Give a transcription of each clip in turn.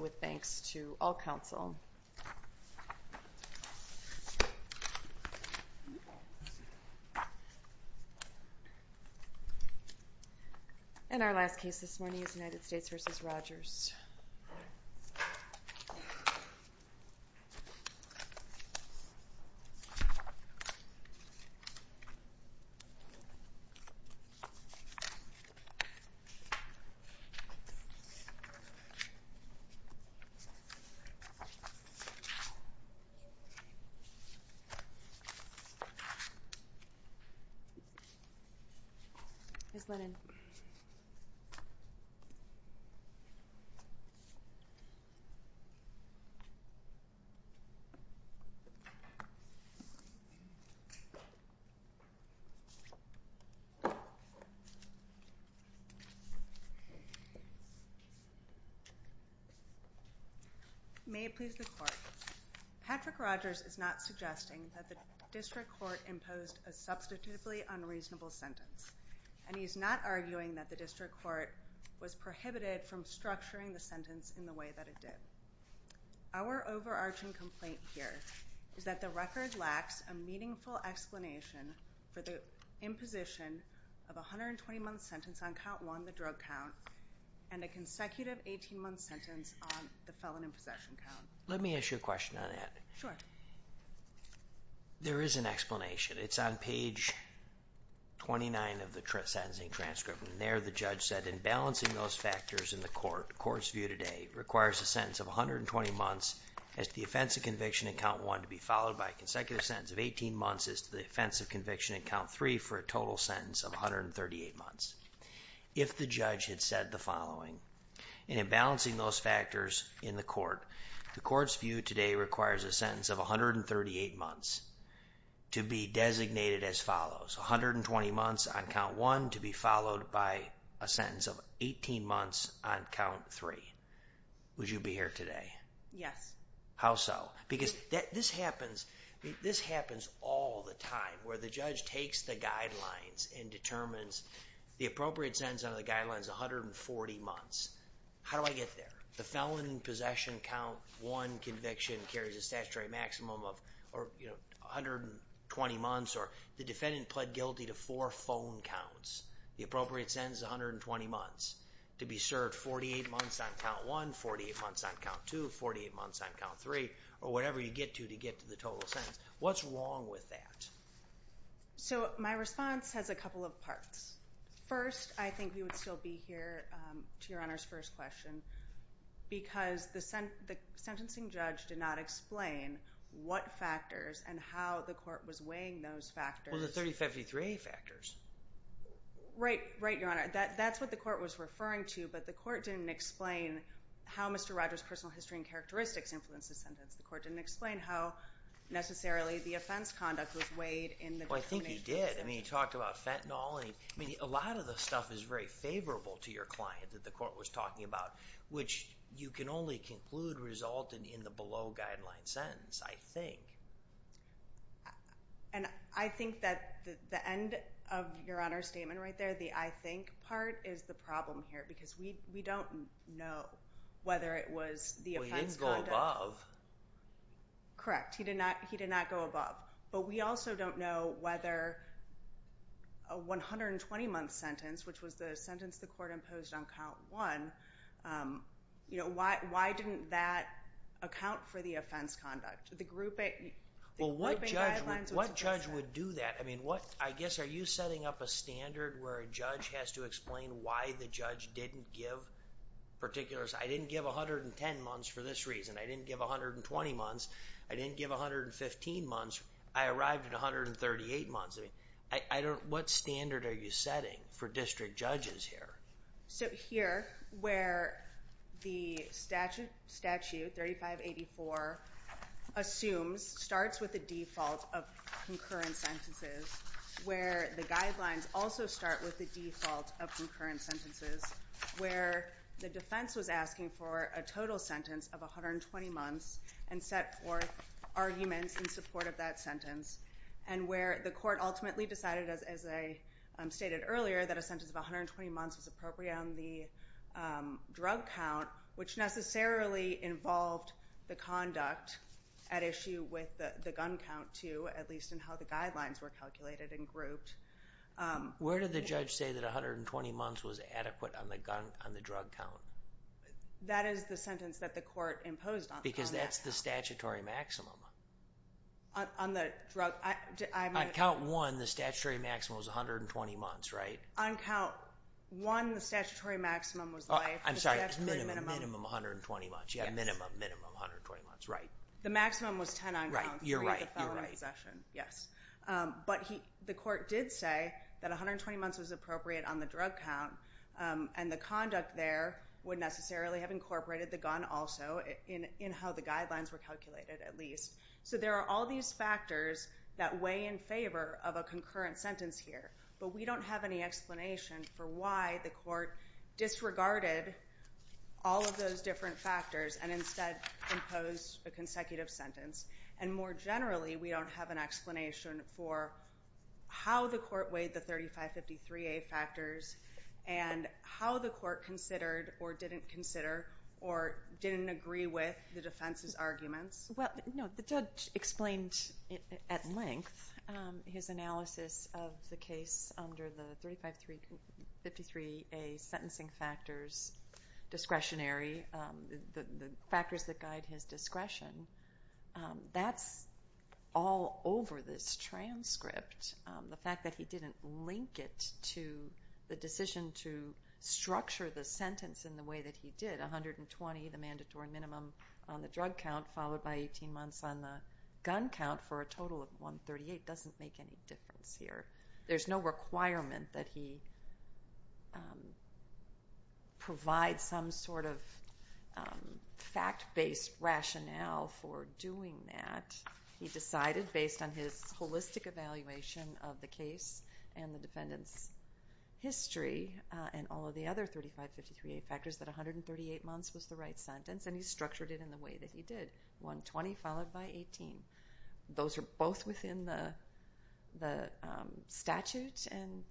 with thanks to all council. And our last case this morning is United States v. Rogers. May it please the court. Patrick Rogers is not suggesting that the district court imposed a substitutively unreasonable sentence. And he's not arguing that the district court was prohibited from structuring the sentence in the way that it did. Our overarching complaint here is that the record lacks a meaningful explanation for the imposition of a 120-month sentence on count one, the drug count, and a consecutive 18-month sentence on the felon in possession count. Let me ask you a question on that. Sure. There is an explanation. It's on page 29 of the sentencing transcript. And there the judge said, in balancing those factors in the court, the court's view today requires a sentence of 120 months as to the offense of conviction in count one to be followed by a consecutive sentence of 18 months as to the offense of conviction in count three for a total sentence of 138 months. If the judge had said the following, in balancing those factors in the court, the court's view today requires a sentence of 138 months to be designated as follows, 120 months on count one to be followed by a sentence of 18 months on count three. Would you be here today? Yes. How so? Because this happens all the time, where the judge takes the guidelines and determines the appropriate sentence under the guidelines is 140 months. How do I get there? The felon in possession count one conviction carries a statutory maximum of 120 months or the defendant pled guilty to four phone counts. The appropriate sentence is 120 months to be served 48 months on count one, 48 months on count two, 48 months on count three, or whatever you get to to get to the total sentence. What's wrong with that? So my response has a couple of parts. First, I think we would still be here to your honor's first question, because the sentencing judge did not explain what factors and how the court was weighing those factors. Well, the 3053A factors. Right, your honor. That's what the court was referring to, but the court didn't explain how Mr. Rogers' personal history and characteristics influenced the sentence. The court didn't explain how, necessarily, the offense conduct was weighed in the... Well, I think he did. I mean, he talked about fentanyl. I mean, a lot of the stuff is very favorable to your client that the court was talking about, which you can only conclude resulted in the below guideline sentence, I think. And I think that the end of your honor's statement right there, the I think part, is the problem here, because we don't know whether it was the offense conduct... Well, he didn't go above. Correct. He did not go above. But we also don't know whether a 120-month sentence, which was the sentence the court imposed on count one, you know, why didn't that account for the offense conduct? Well, what judge would do that? I mean, what, I guess, are you setting up a standard where a judge has to explain why the judge didn't give particular... I didn't give 110 months for this reason. I didn't give 120 months. I didn't give 115 months. I arrived at 138 months. I mean, I don't... What standard are you setting for district judges here? So here, where the statute 3584 assumes, starts with a default of concurrent sentences, where the guidelines also start with a default of concurrent sentences, where the defense was asking for a total sentence of 120 months and set forth arguments in support of that sentence, and where the court ultimately decided, as I stated earlier, that a sentence of 120 months was appropriate on the drug count, which necessarily involved the conduct at issue with the gun count, too, at least in how the guidelines were calculated and grouped. Where did the judge say that 120 months was adequate on the gun, on the drug count? That is the sentence that the court imposed on that count. Because that's the statutory maximum. On the drug, I... On count one, the statutory maximum was 120 months, right? On count one, the statutory maximum was life. I'm sorry, minimum 120 months. Yeah, minimum, minimum 120 months, right. The maximum was 10 on count. Right, you're right, you're right. For the felony possession, yes. But the court did say that 120 months was appropriate on the drug count, and the conduct there would necessarily have incorporated the gun also in how the guidelines were calculated, at least. So there are all these factors that weigh in favor of a concurrent sentence here, but we don't have any explanation for why the court disregarded all of those different factors and instead imposed a consecutive sentence. And more generally, we don't have an explanation for how the court weighed the 3553A factors and how the court considered or didn't consider or didn't agree with the defense's arguments. Well, no, the judge explained at length his analysis of the case under the 3553A sentencing factors discretionary, the factors that guide his discretion. That's all over this transcript. The fact that he didn't link it to the decision to structure the sentence in the way that he did, 120, the mandatory minimum on the drug count, followed by 18 months on the gun count for a total of 138, doesn't make any difference here. There's no requirement that he provide some sort of fact-based rationale for doing that. He decided, based on his holistic evaluation of the case and the defendant's history and all of the other 3553A factors, that 138 months was the right sentence and he structured it in the way that he did, 120 followed by 18. Those are both within the statute and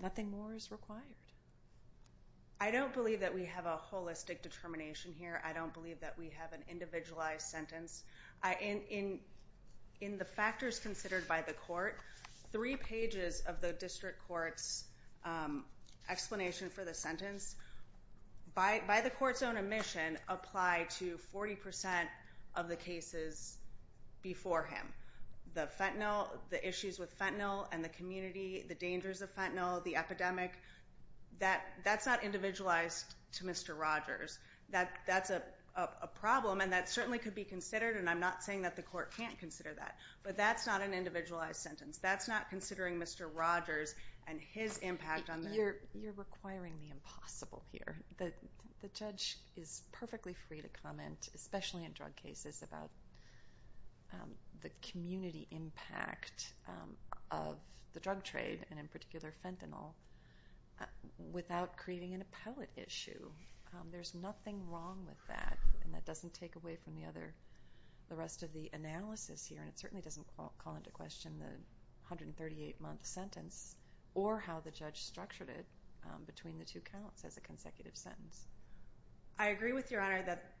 nothing more is required. I don't believe that we have a holistic determination here. I don't believe that we have an individualized sentence. In the factors considered by the court, three pages of the district court's explanation for the sentence, by the court's own admission, apply to 40% of the cases before him. The fentanyl, the issues with fentanyl and the community, the dangers of fentanyl, the epidemic, that's not individualized to Mr. Rogers. That's a problem and that certainly could be considered and I'm not saying that the court can't consider that, but that's not an individualized sentence. That's not considering Mr. Rogers and his impact on the... You're requiring the impossible here. The judge is perfectly free to comment, especially in drug cases, about the community impact of the drug trade and in particular fentanyl, without creating an appellate issue. There's nothing wrong with that and that doesn't take away from the rest of the analysis here and it certainly doesn't call into question the 138-month sentence or how the judge structured it between the two counts as a consecutive sentence. I agree with Your Honor that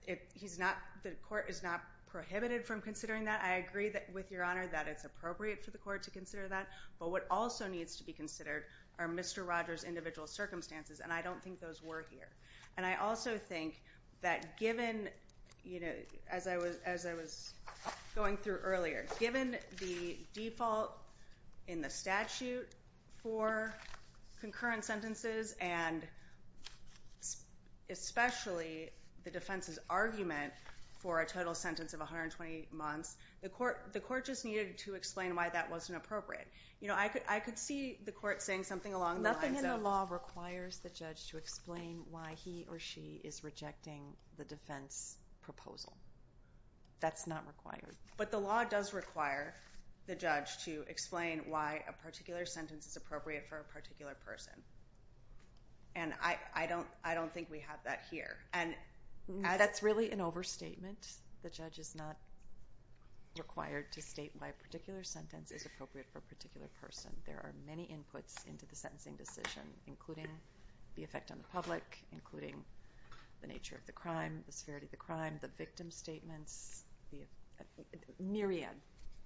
the court is not prohibited from considering that. I agree with Your Honor that it's appropriate for the court to consider that, but what also needs to be considered are Mr. Rogers' individual circumstances and I don't think those were here. And I also think that given, you know, as I was going through earlier, given the default in the statute for concurrent sentences and especially the defense's argument for a total sentence of 120 months, the court just needed to explain why that wasn't appropriate. You know, I could see the court saying something along the lines of... he or she is rejecting the defense proposal. That's not required. But the law does require the judge to explain why a particular sentence is appropriate for a particular person. And I don't think we have that here. That's really an overstatement. The judge is not required to state why a particular sentence is appropriate for a particular person. There are many inputs into the sentencing decision, including the effect on the public, including the nature of the crime, the severity of the crime, the victim statements, a myriad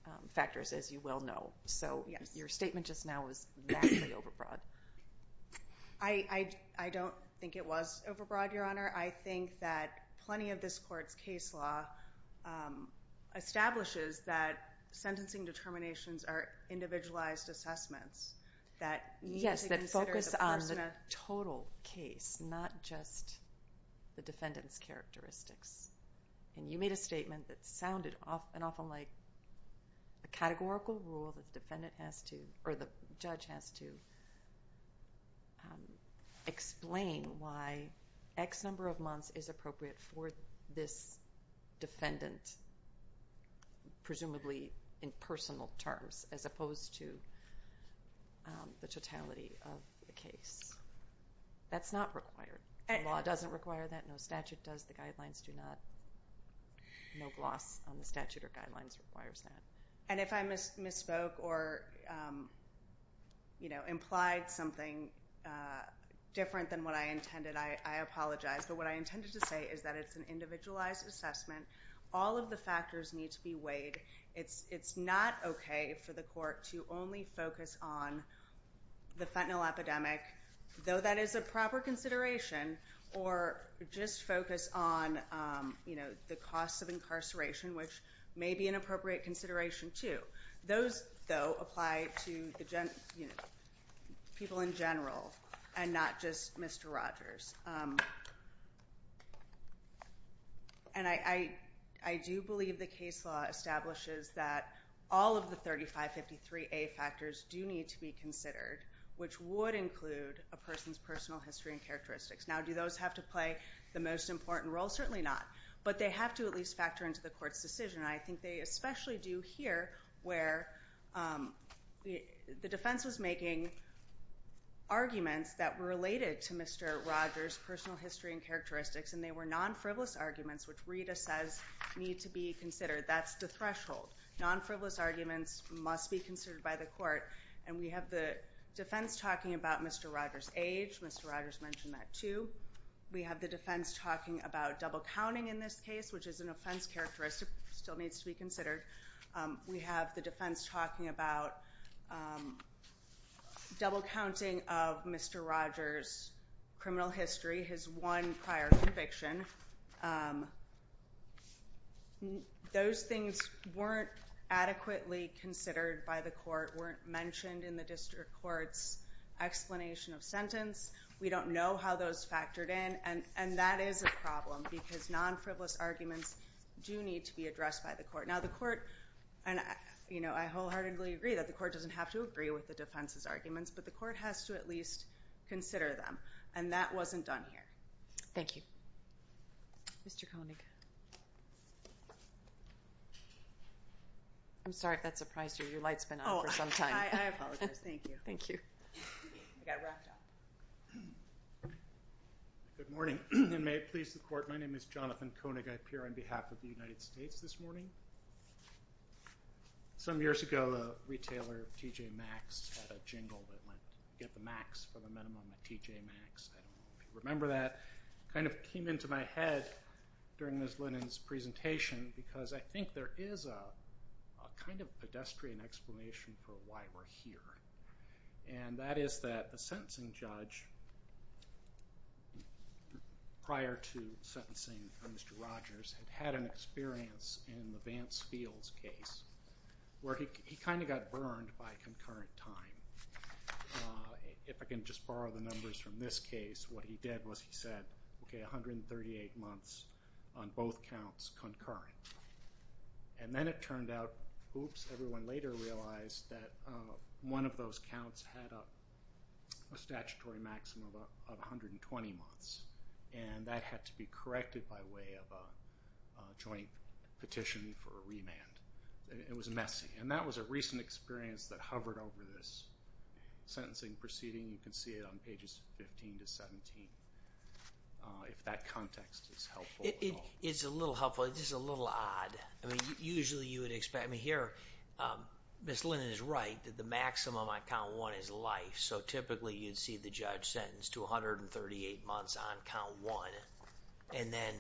of factors, as you well know. So your statement just now was vastly overbroad. I don't think it was overbroad, Your Honor. I think that plenty of this court's case law establishes that sentencing determinations are individualized assessments that need to consider the person. Yes, that focus on the total case, not just the defendant's characteristics. And you made a statement that sounded often like a categorical rule that the judge has to explain why X number of months is appropriate for this defendant, presumably in personal terms, as opposed to the totality of the case. That's not required. The law doesn't require that. No statute does. The guidelines do not. No gloss on the statute or guidelines requires that. And if I misspoke or implied something different than what I intended, I apologize. But what I intended to say is that it's an individualized assessment. All of the factors need to be weighed. It's not okay for the court to only focus on the fentanyl epidemic, though that is a proper consideration, or just focus on the cost of incarceration, which may be an appropriate consideration too. Those, though, apply to people in general and not just Mr. Rogers. And I do believe the case law establishes that all of the 3553A factors do need to be considered, which would include a person's personal history and characteristics. Now, do those have to play the most important role? Certainly not. But they have to at least factor into the court's decision, and I think they especially do here where the defense was making arguments that were related to Mr. Rogers' personal history and characteristics, and they were non-frivolous arguments, which Rita says need to be considered. That's the threshold. Non-frivolous arguments must be considered by the court, and we have the defense talking about Mr. Rogers' age. Mr. Rogers mentioned that too. We have the defense talking about double counting in this case, which is an offense characteristic that still needs to be considered. We have the defense talking about double counting of Mr. Rogers' criminal history, his one prior conviction. Those things weren't adequately considered by the court, weren't mentioned in the district court's explanation of sentence. We don't know how those factored in, and that is a problem because non-frivolous arguments do need to be addressed by the court. Now, the court, you know, I wholeheartedly agree that the court doesn't have to agree with the defense's arguments, but the court has to at least consider them, and that wasn't done here. Thank you. Mr. Koenig. I'm sorry if that surprised you. Your light's been on for some time. I apologize. Thank you. Thank you. Good morning, and may it please the court. My name is Jonathan Koenig. I appear on behalf of the United States this morning. Some years ago a retailer, TJ Maxx, had a jingle that went, get the max for the minimum at TJ Maxx. I don't know if you remember that. It kind of came into my head during Ms. Lennon's presentation because I think there is a kind of pedestrian explanation for why we're here, and that is that the sentencing judge prior to sentencing Mr. Rogers had had an experience in the Vance Fields case where he kind of got burned by concurrent time. If I can just borrow the numbers from this case, what he did was he said, okay, 138 months on both counts concurrent. And then it turned out, oops, everyone later realized that one of those counts had a statutory maximum of 120 months, and that had to be corrected by way of a joint petition for a remand. It was messy. And that was a recent experience that hovered over this sentencing proceeding. You can see it on pages 15 to 17 if that context is helpful at all. It's a little helpful. It's just a little odd. I mean, usually you would expect. I mean, here Ms. Lennon is right that the maximum on count one is life, so typically you'd see the judge sentenced to 138 months on count one, and then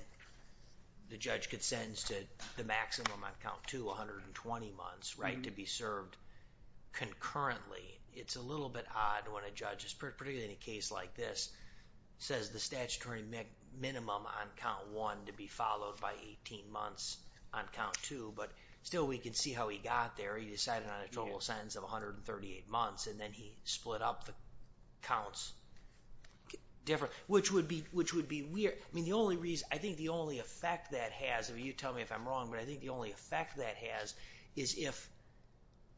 the judge could sentence to the maximum on count two, 120 months, right, to be served concurrently. It's a little bit odd when a judge, particularly in a case like this, says the statutory minimum on count one to be followed by 18 months on count two, but still we can see how he got there. He decided on a total sentence of 138 months, and then he split up the counts, which would be weird. I mean, I think the only effect that has, and you tell me if I'm wrong, but I think the only effect that has is if,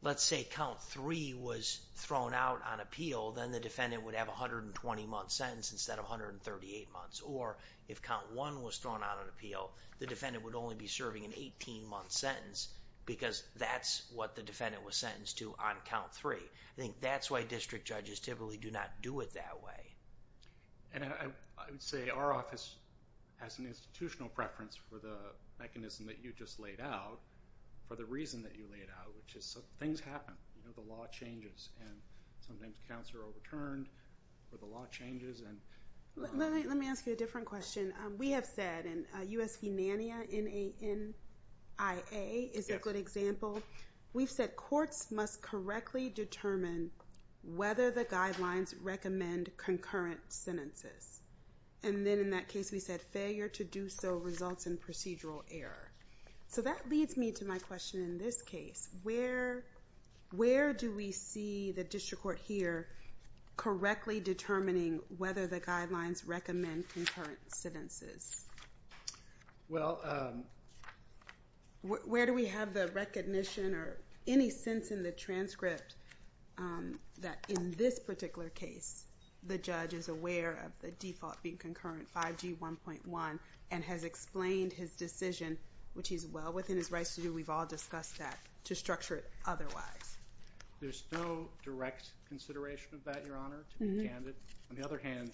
let's say, count three was thrown out on appeal, then the defendant would have a 120-month sentence instead of 138 months, or if count one was thrown out on appeal, the defendant would only be serving an 18-month sentence because that's what the defendant was sentenced to on count three. I think that's why district judges typically do not do it that way. And I would say our office has an institutional preference for the mechanism that you just laid out for the reason that you laid out, which is things happen. The law changes, and sometimes counts are overturned, or the law changes. Let me ask you a different question. We have said, and U.S. Humania, N-A-N-I-A, is a good example. We've said courts must correctly determine whether the guidelines recommend concurrent sentences. And then in that case we said failure to do so results in procedural error. So that leads me to my question in this case. Where do we see the district court here correctly determining whether the guidelines recommend concurrent sentences? Where do we have the recognition or any sense in the transcript that in this particular case the judge is aware of the default being concurrent, 5G 1.1, and has explained his decision, which he's well within his rights to do, we've all discussed that, to structure it otherwise? There's no direct consideration of that, Your Honor, to be candid. On the other hand,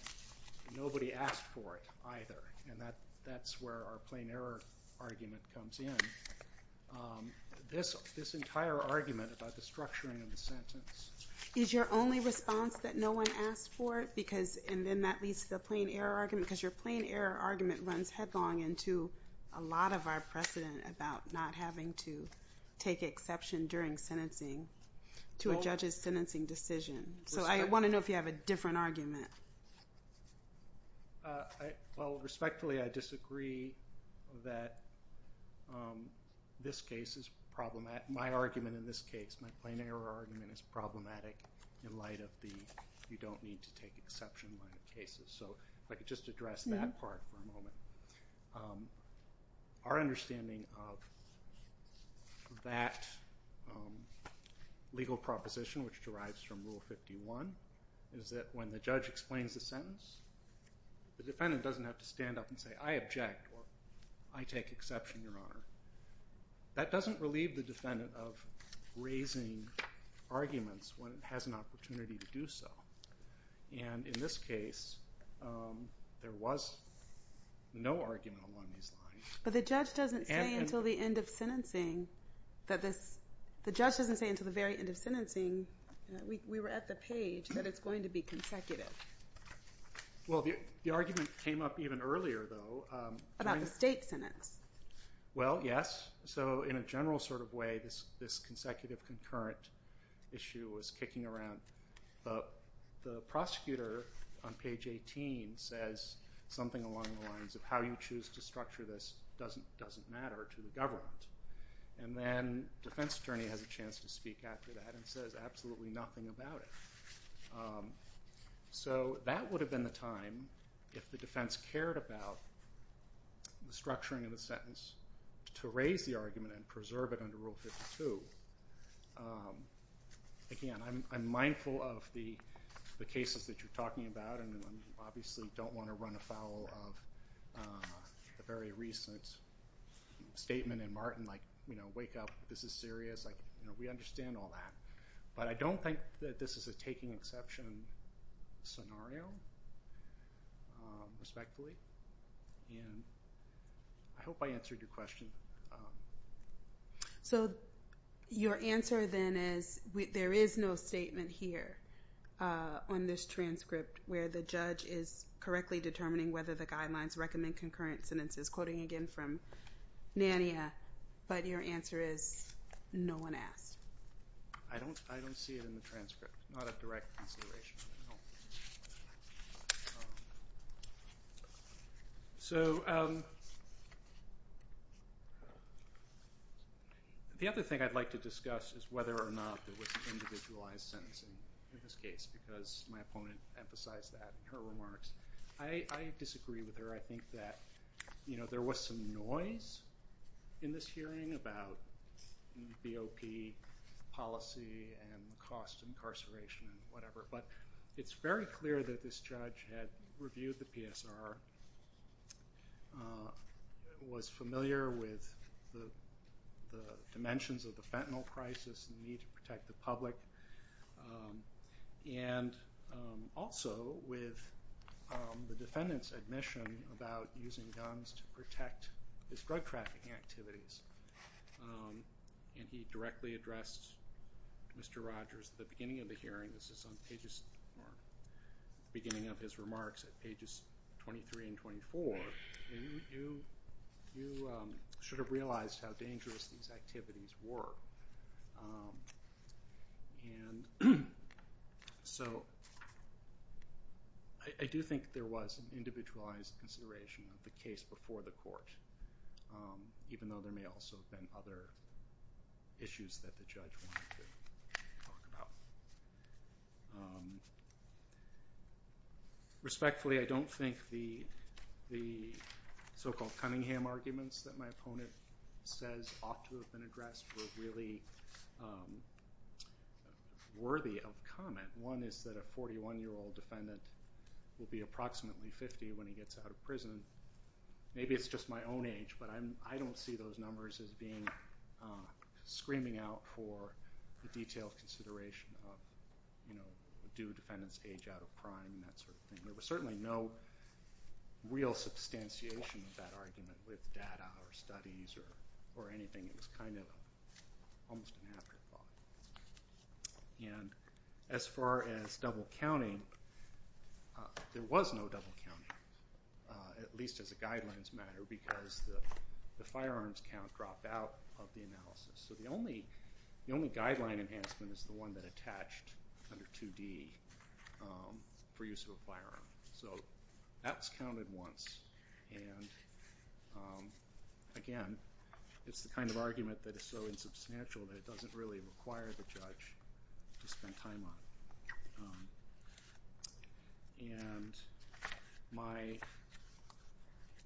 nobody asked for it either, and that's where our plain error argument comes in. This entire argument about the structuring of the sentence. Is your only response that no one asked for it, and then that leads to the plain error argument? Because your plain error argument runs headlong into a lot of our precedent about not having to take exception during sentencing to a judge's sentencing decision. So I want to know if you have a different argument. Respectfully, I disagree that this case is problematic. My argument in this case, my plain error argument, is problematic in light of the you don't need to take exception line of cases. So if I could just address that part for a moment. Our understanding of that legal proposition, which derives from Rule 51, is that when the judge explains the sentence, the defendant doesn't have to stand up and say, I object or I take exception, Your Honor. That doesn't relieve the defendant of raising arguments when it has an opportunity to do so. And in this case, there was no argument along these lines. But the judge doesn't say until the very end of sentencing, we were at the page, that it's going to be consecutive. Well, the argument came up even earlier, though. About the state sentence. Well, yes. So in a general sort of way, this consecutive concurrent issue was kicking around. The prosecutor on page 18 says something along the lines of how you choose to structure this doesn't matter to the government. And then defense attorney has a chance to speak after that and says absolutely nothing about it. So that would have been the time if the defense cared about the structuring of the sentence to raise the argument and preserve it under Rule 52. Again, I'm mindful of the cases that you're talking about and obviously don't want to run afoul of the very recent statement in Martin, like wake up, this is serious. We understand all that. But I don't think that this is a taking exception scenario, respectfully. And I hope I answered your question. So your answer then is there is no statement here on this transcript where the judge is correctly determining whether the guidelines recommend concurrent sentences. Quoting again from NANIA. But your answer is no one asked. I don't see it in the transcript. Not a direct consideration. So the other thing I'd like to discuss is whether or not there was individualized sentencing in this case because my opponent emphasized that in her remarks. I disagree with her. I think that there was some noise in this hearing about BOP policy and the cost of incarceration and whatever. But it's very clear that this judge had reviewed the PSR, was familiar with the dimensions of the fentanyl crisis and the need to protect the public, and also with the defendant's admission about using guns to protect his drug trafficking activities. And he directly addressed Mr. Rogers at the beginning of the hearing. This is on the beginning of his remarks at pages 23 and 24. And you should have realized how dangerous these activities were. And so I do think there was an individualized consideration of the case before the court, even though there may also have been other issues that the judge wanted to talk about. Respectfully, I don't think the so-called Cunningham arguments that my opponent says ought to have been addressed were really worthy of comment. One is that a 41-year-old defendant will be approximately 50 when he gets out of prison. Maybe it's just my own age, but I don't see those numbers as screaming out for the detailed consideration of do defendants age out of crime and that sort of thing. There was certainly no real substantiation of that argument with data or studies or anything. It was kind of almost an afterthought. And as far as double counting, there was no double counting, at least as a guidelines matter, because the firearms count dropped out of the analysis. So the only guideline enhancement is the one that attached under 2D for use of a firearm. So that's counted once. And again, it's the kind of argument that is so insubstantial that it doesn't really require the judge to spend time on it. And my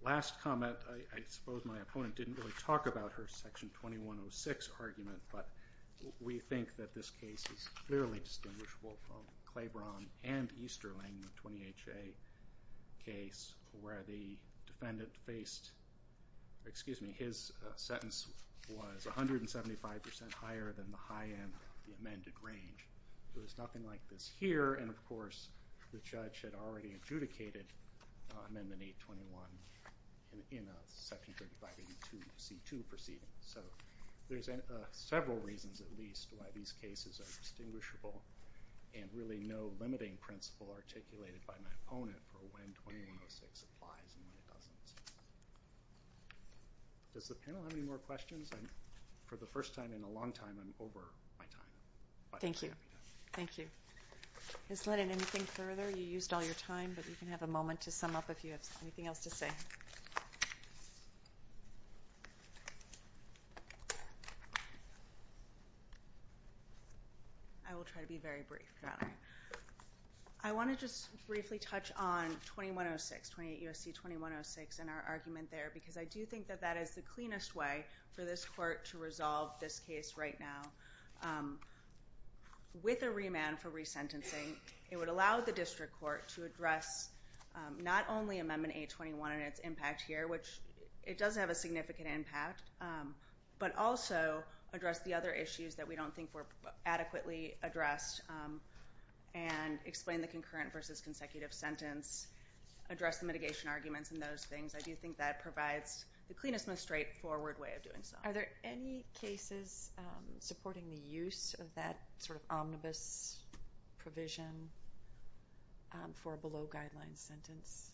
last comment, I suppose my opponent didn't really talk about her Section 2106 argument, but we think that this case is clearly distinguishable from Claiborne and Easterling, the 20HA case, where the defendant faced, excuse me, his sentence was 175% higher than the high end of the amended range. There was nothing like this here, and of course the judge had already adjudicated Amendment 821 in a Section 3582C2 proceeding. So there's several reasons at least why these cases are distinguishable and really no limiting principle articulated by my opponent for when 2106 applies and when it doesn't. Does the panel have any more questions? For the first time in a long time, I'm over my time. Thank you. Thank you. Ms. Lennon, anything further? You used all your time, but you can have a moment to sum up if you have anything else to say. I will try to be very brief, Your Honor. I want to just briefly touch on 2106, 28 U.S.C. 2106, and our argument there, because I do think that that is the cleanest way for this court to resolve this case right now. With a remand for resentencing, it would allow the district court to address not only Amendment 821 and its impact here, which it does have a significant impact, but also address the other issues that we don't think were adequately addressed and explain the concurrent versus consecutive sentence, address the mitigation arguments and those things. I do think that provides the cleanest and most straightforward way of doing so. Are there any cases supporting the use of that sort of omnibus provision for a below-guideline sentence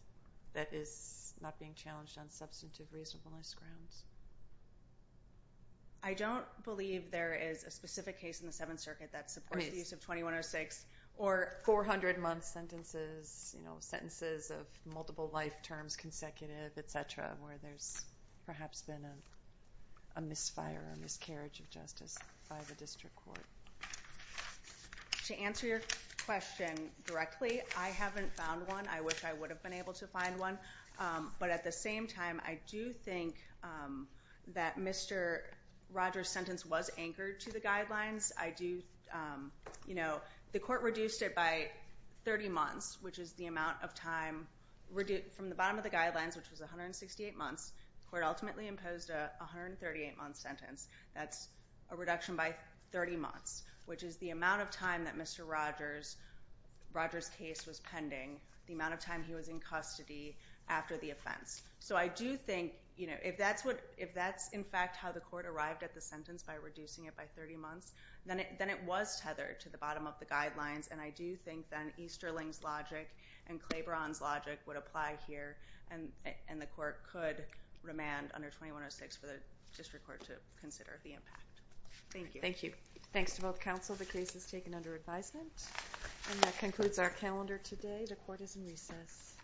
that is not being challenged on substantive reasonableness grounds? I don't believe there is a specific case in the Seventh Circuit that supports the use of 2106 or 400-month sentences, sentences of multiple life terms, consecutive, et cetera, where there's perhaps been a misfire or miscarriage of justice by the district court. To answer your question directly, I haven't found one. I wish I would have been able to find one. But at the same time, I do think that Mr. Rogers' sentence was anchored to the guidelines. The court reduced it by 30 months, which is the amount of time from the bottom of the guidelines, which was 168 months. The court ultimately imposed a 138-month sentence. That's a reduction by 30 months, which is the amount of time that Mr. Rogers' case was pending, the amount of time he was in custody after the offense. So I do think if that's, in fact, how the court arrived at the sentence by reducing it by 30 months, then it was tethered to the bottom of the guidelines, and I do think then Easterling's logic and Claiborne's logic would apply here, and the court could remand under 2106 for the district court to consider the impact. Thank you. Thank you. Thanks to both counsel. The case is taken under advisement. And that concludes our calendar today. The court is in recess.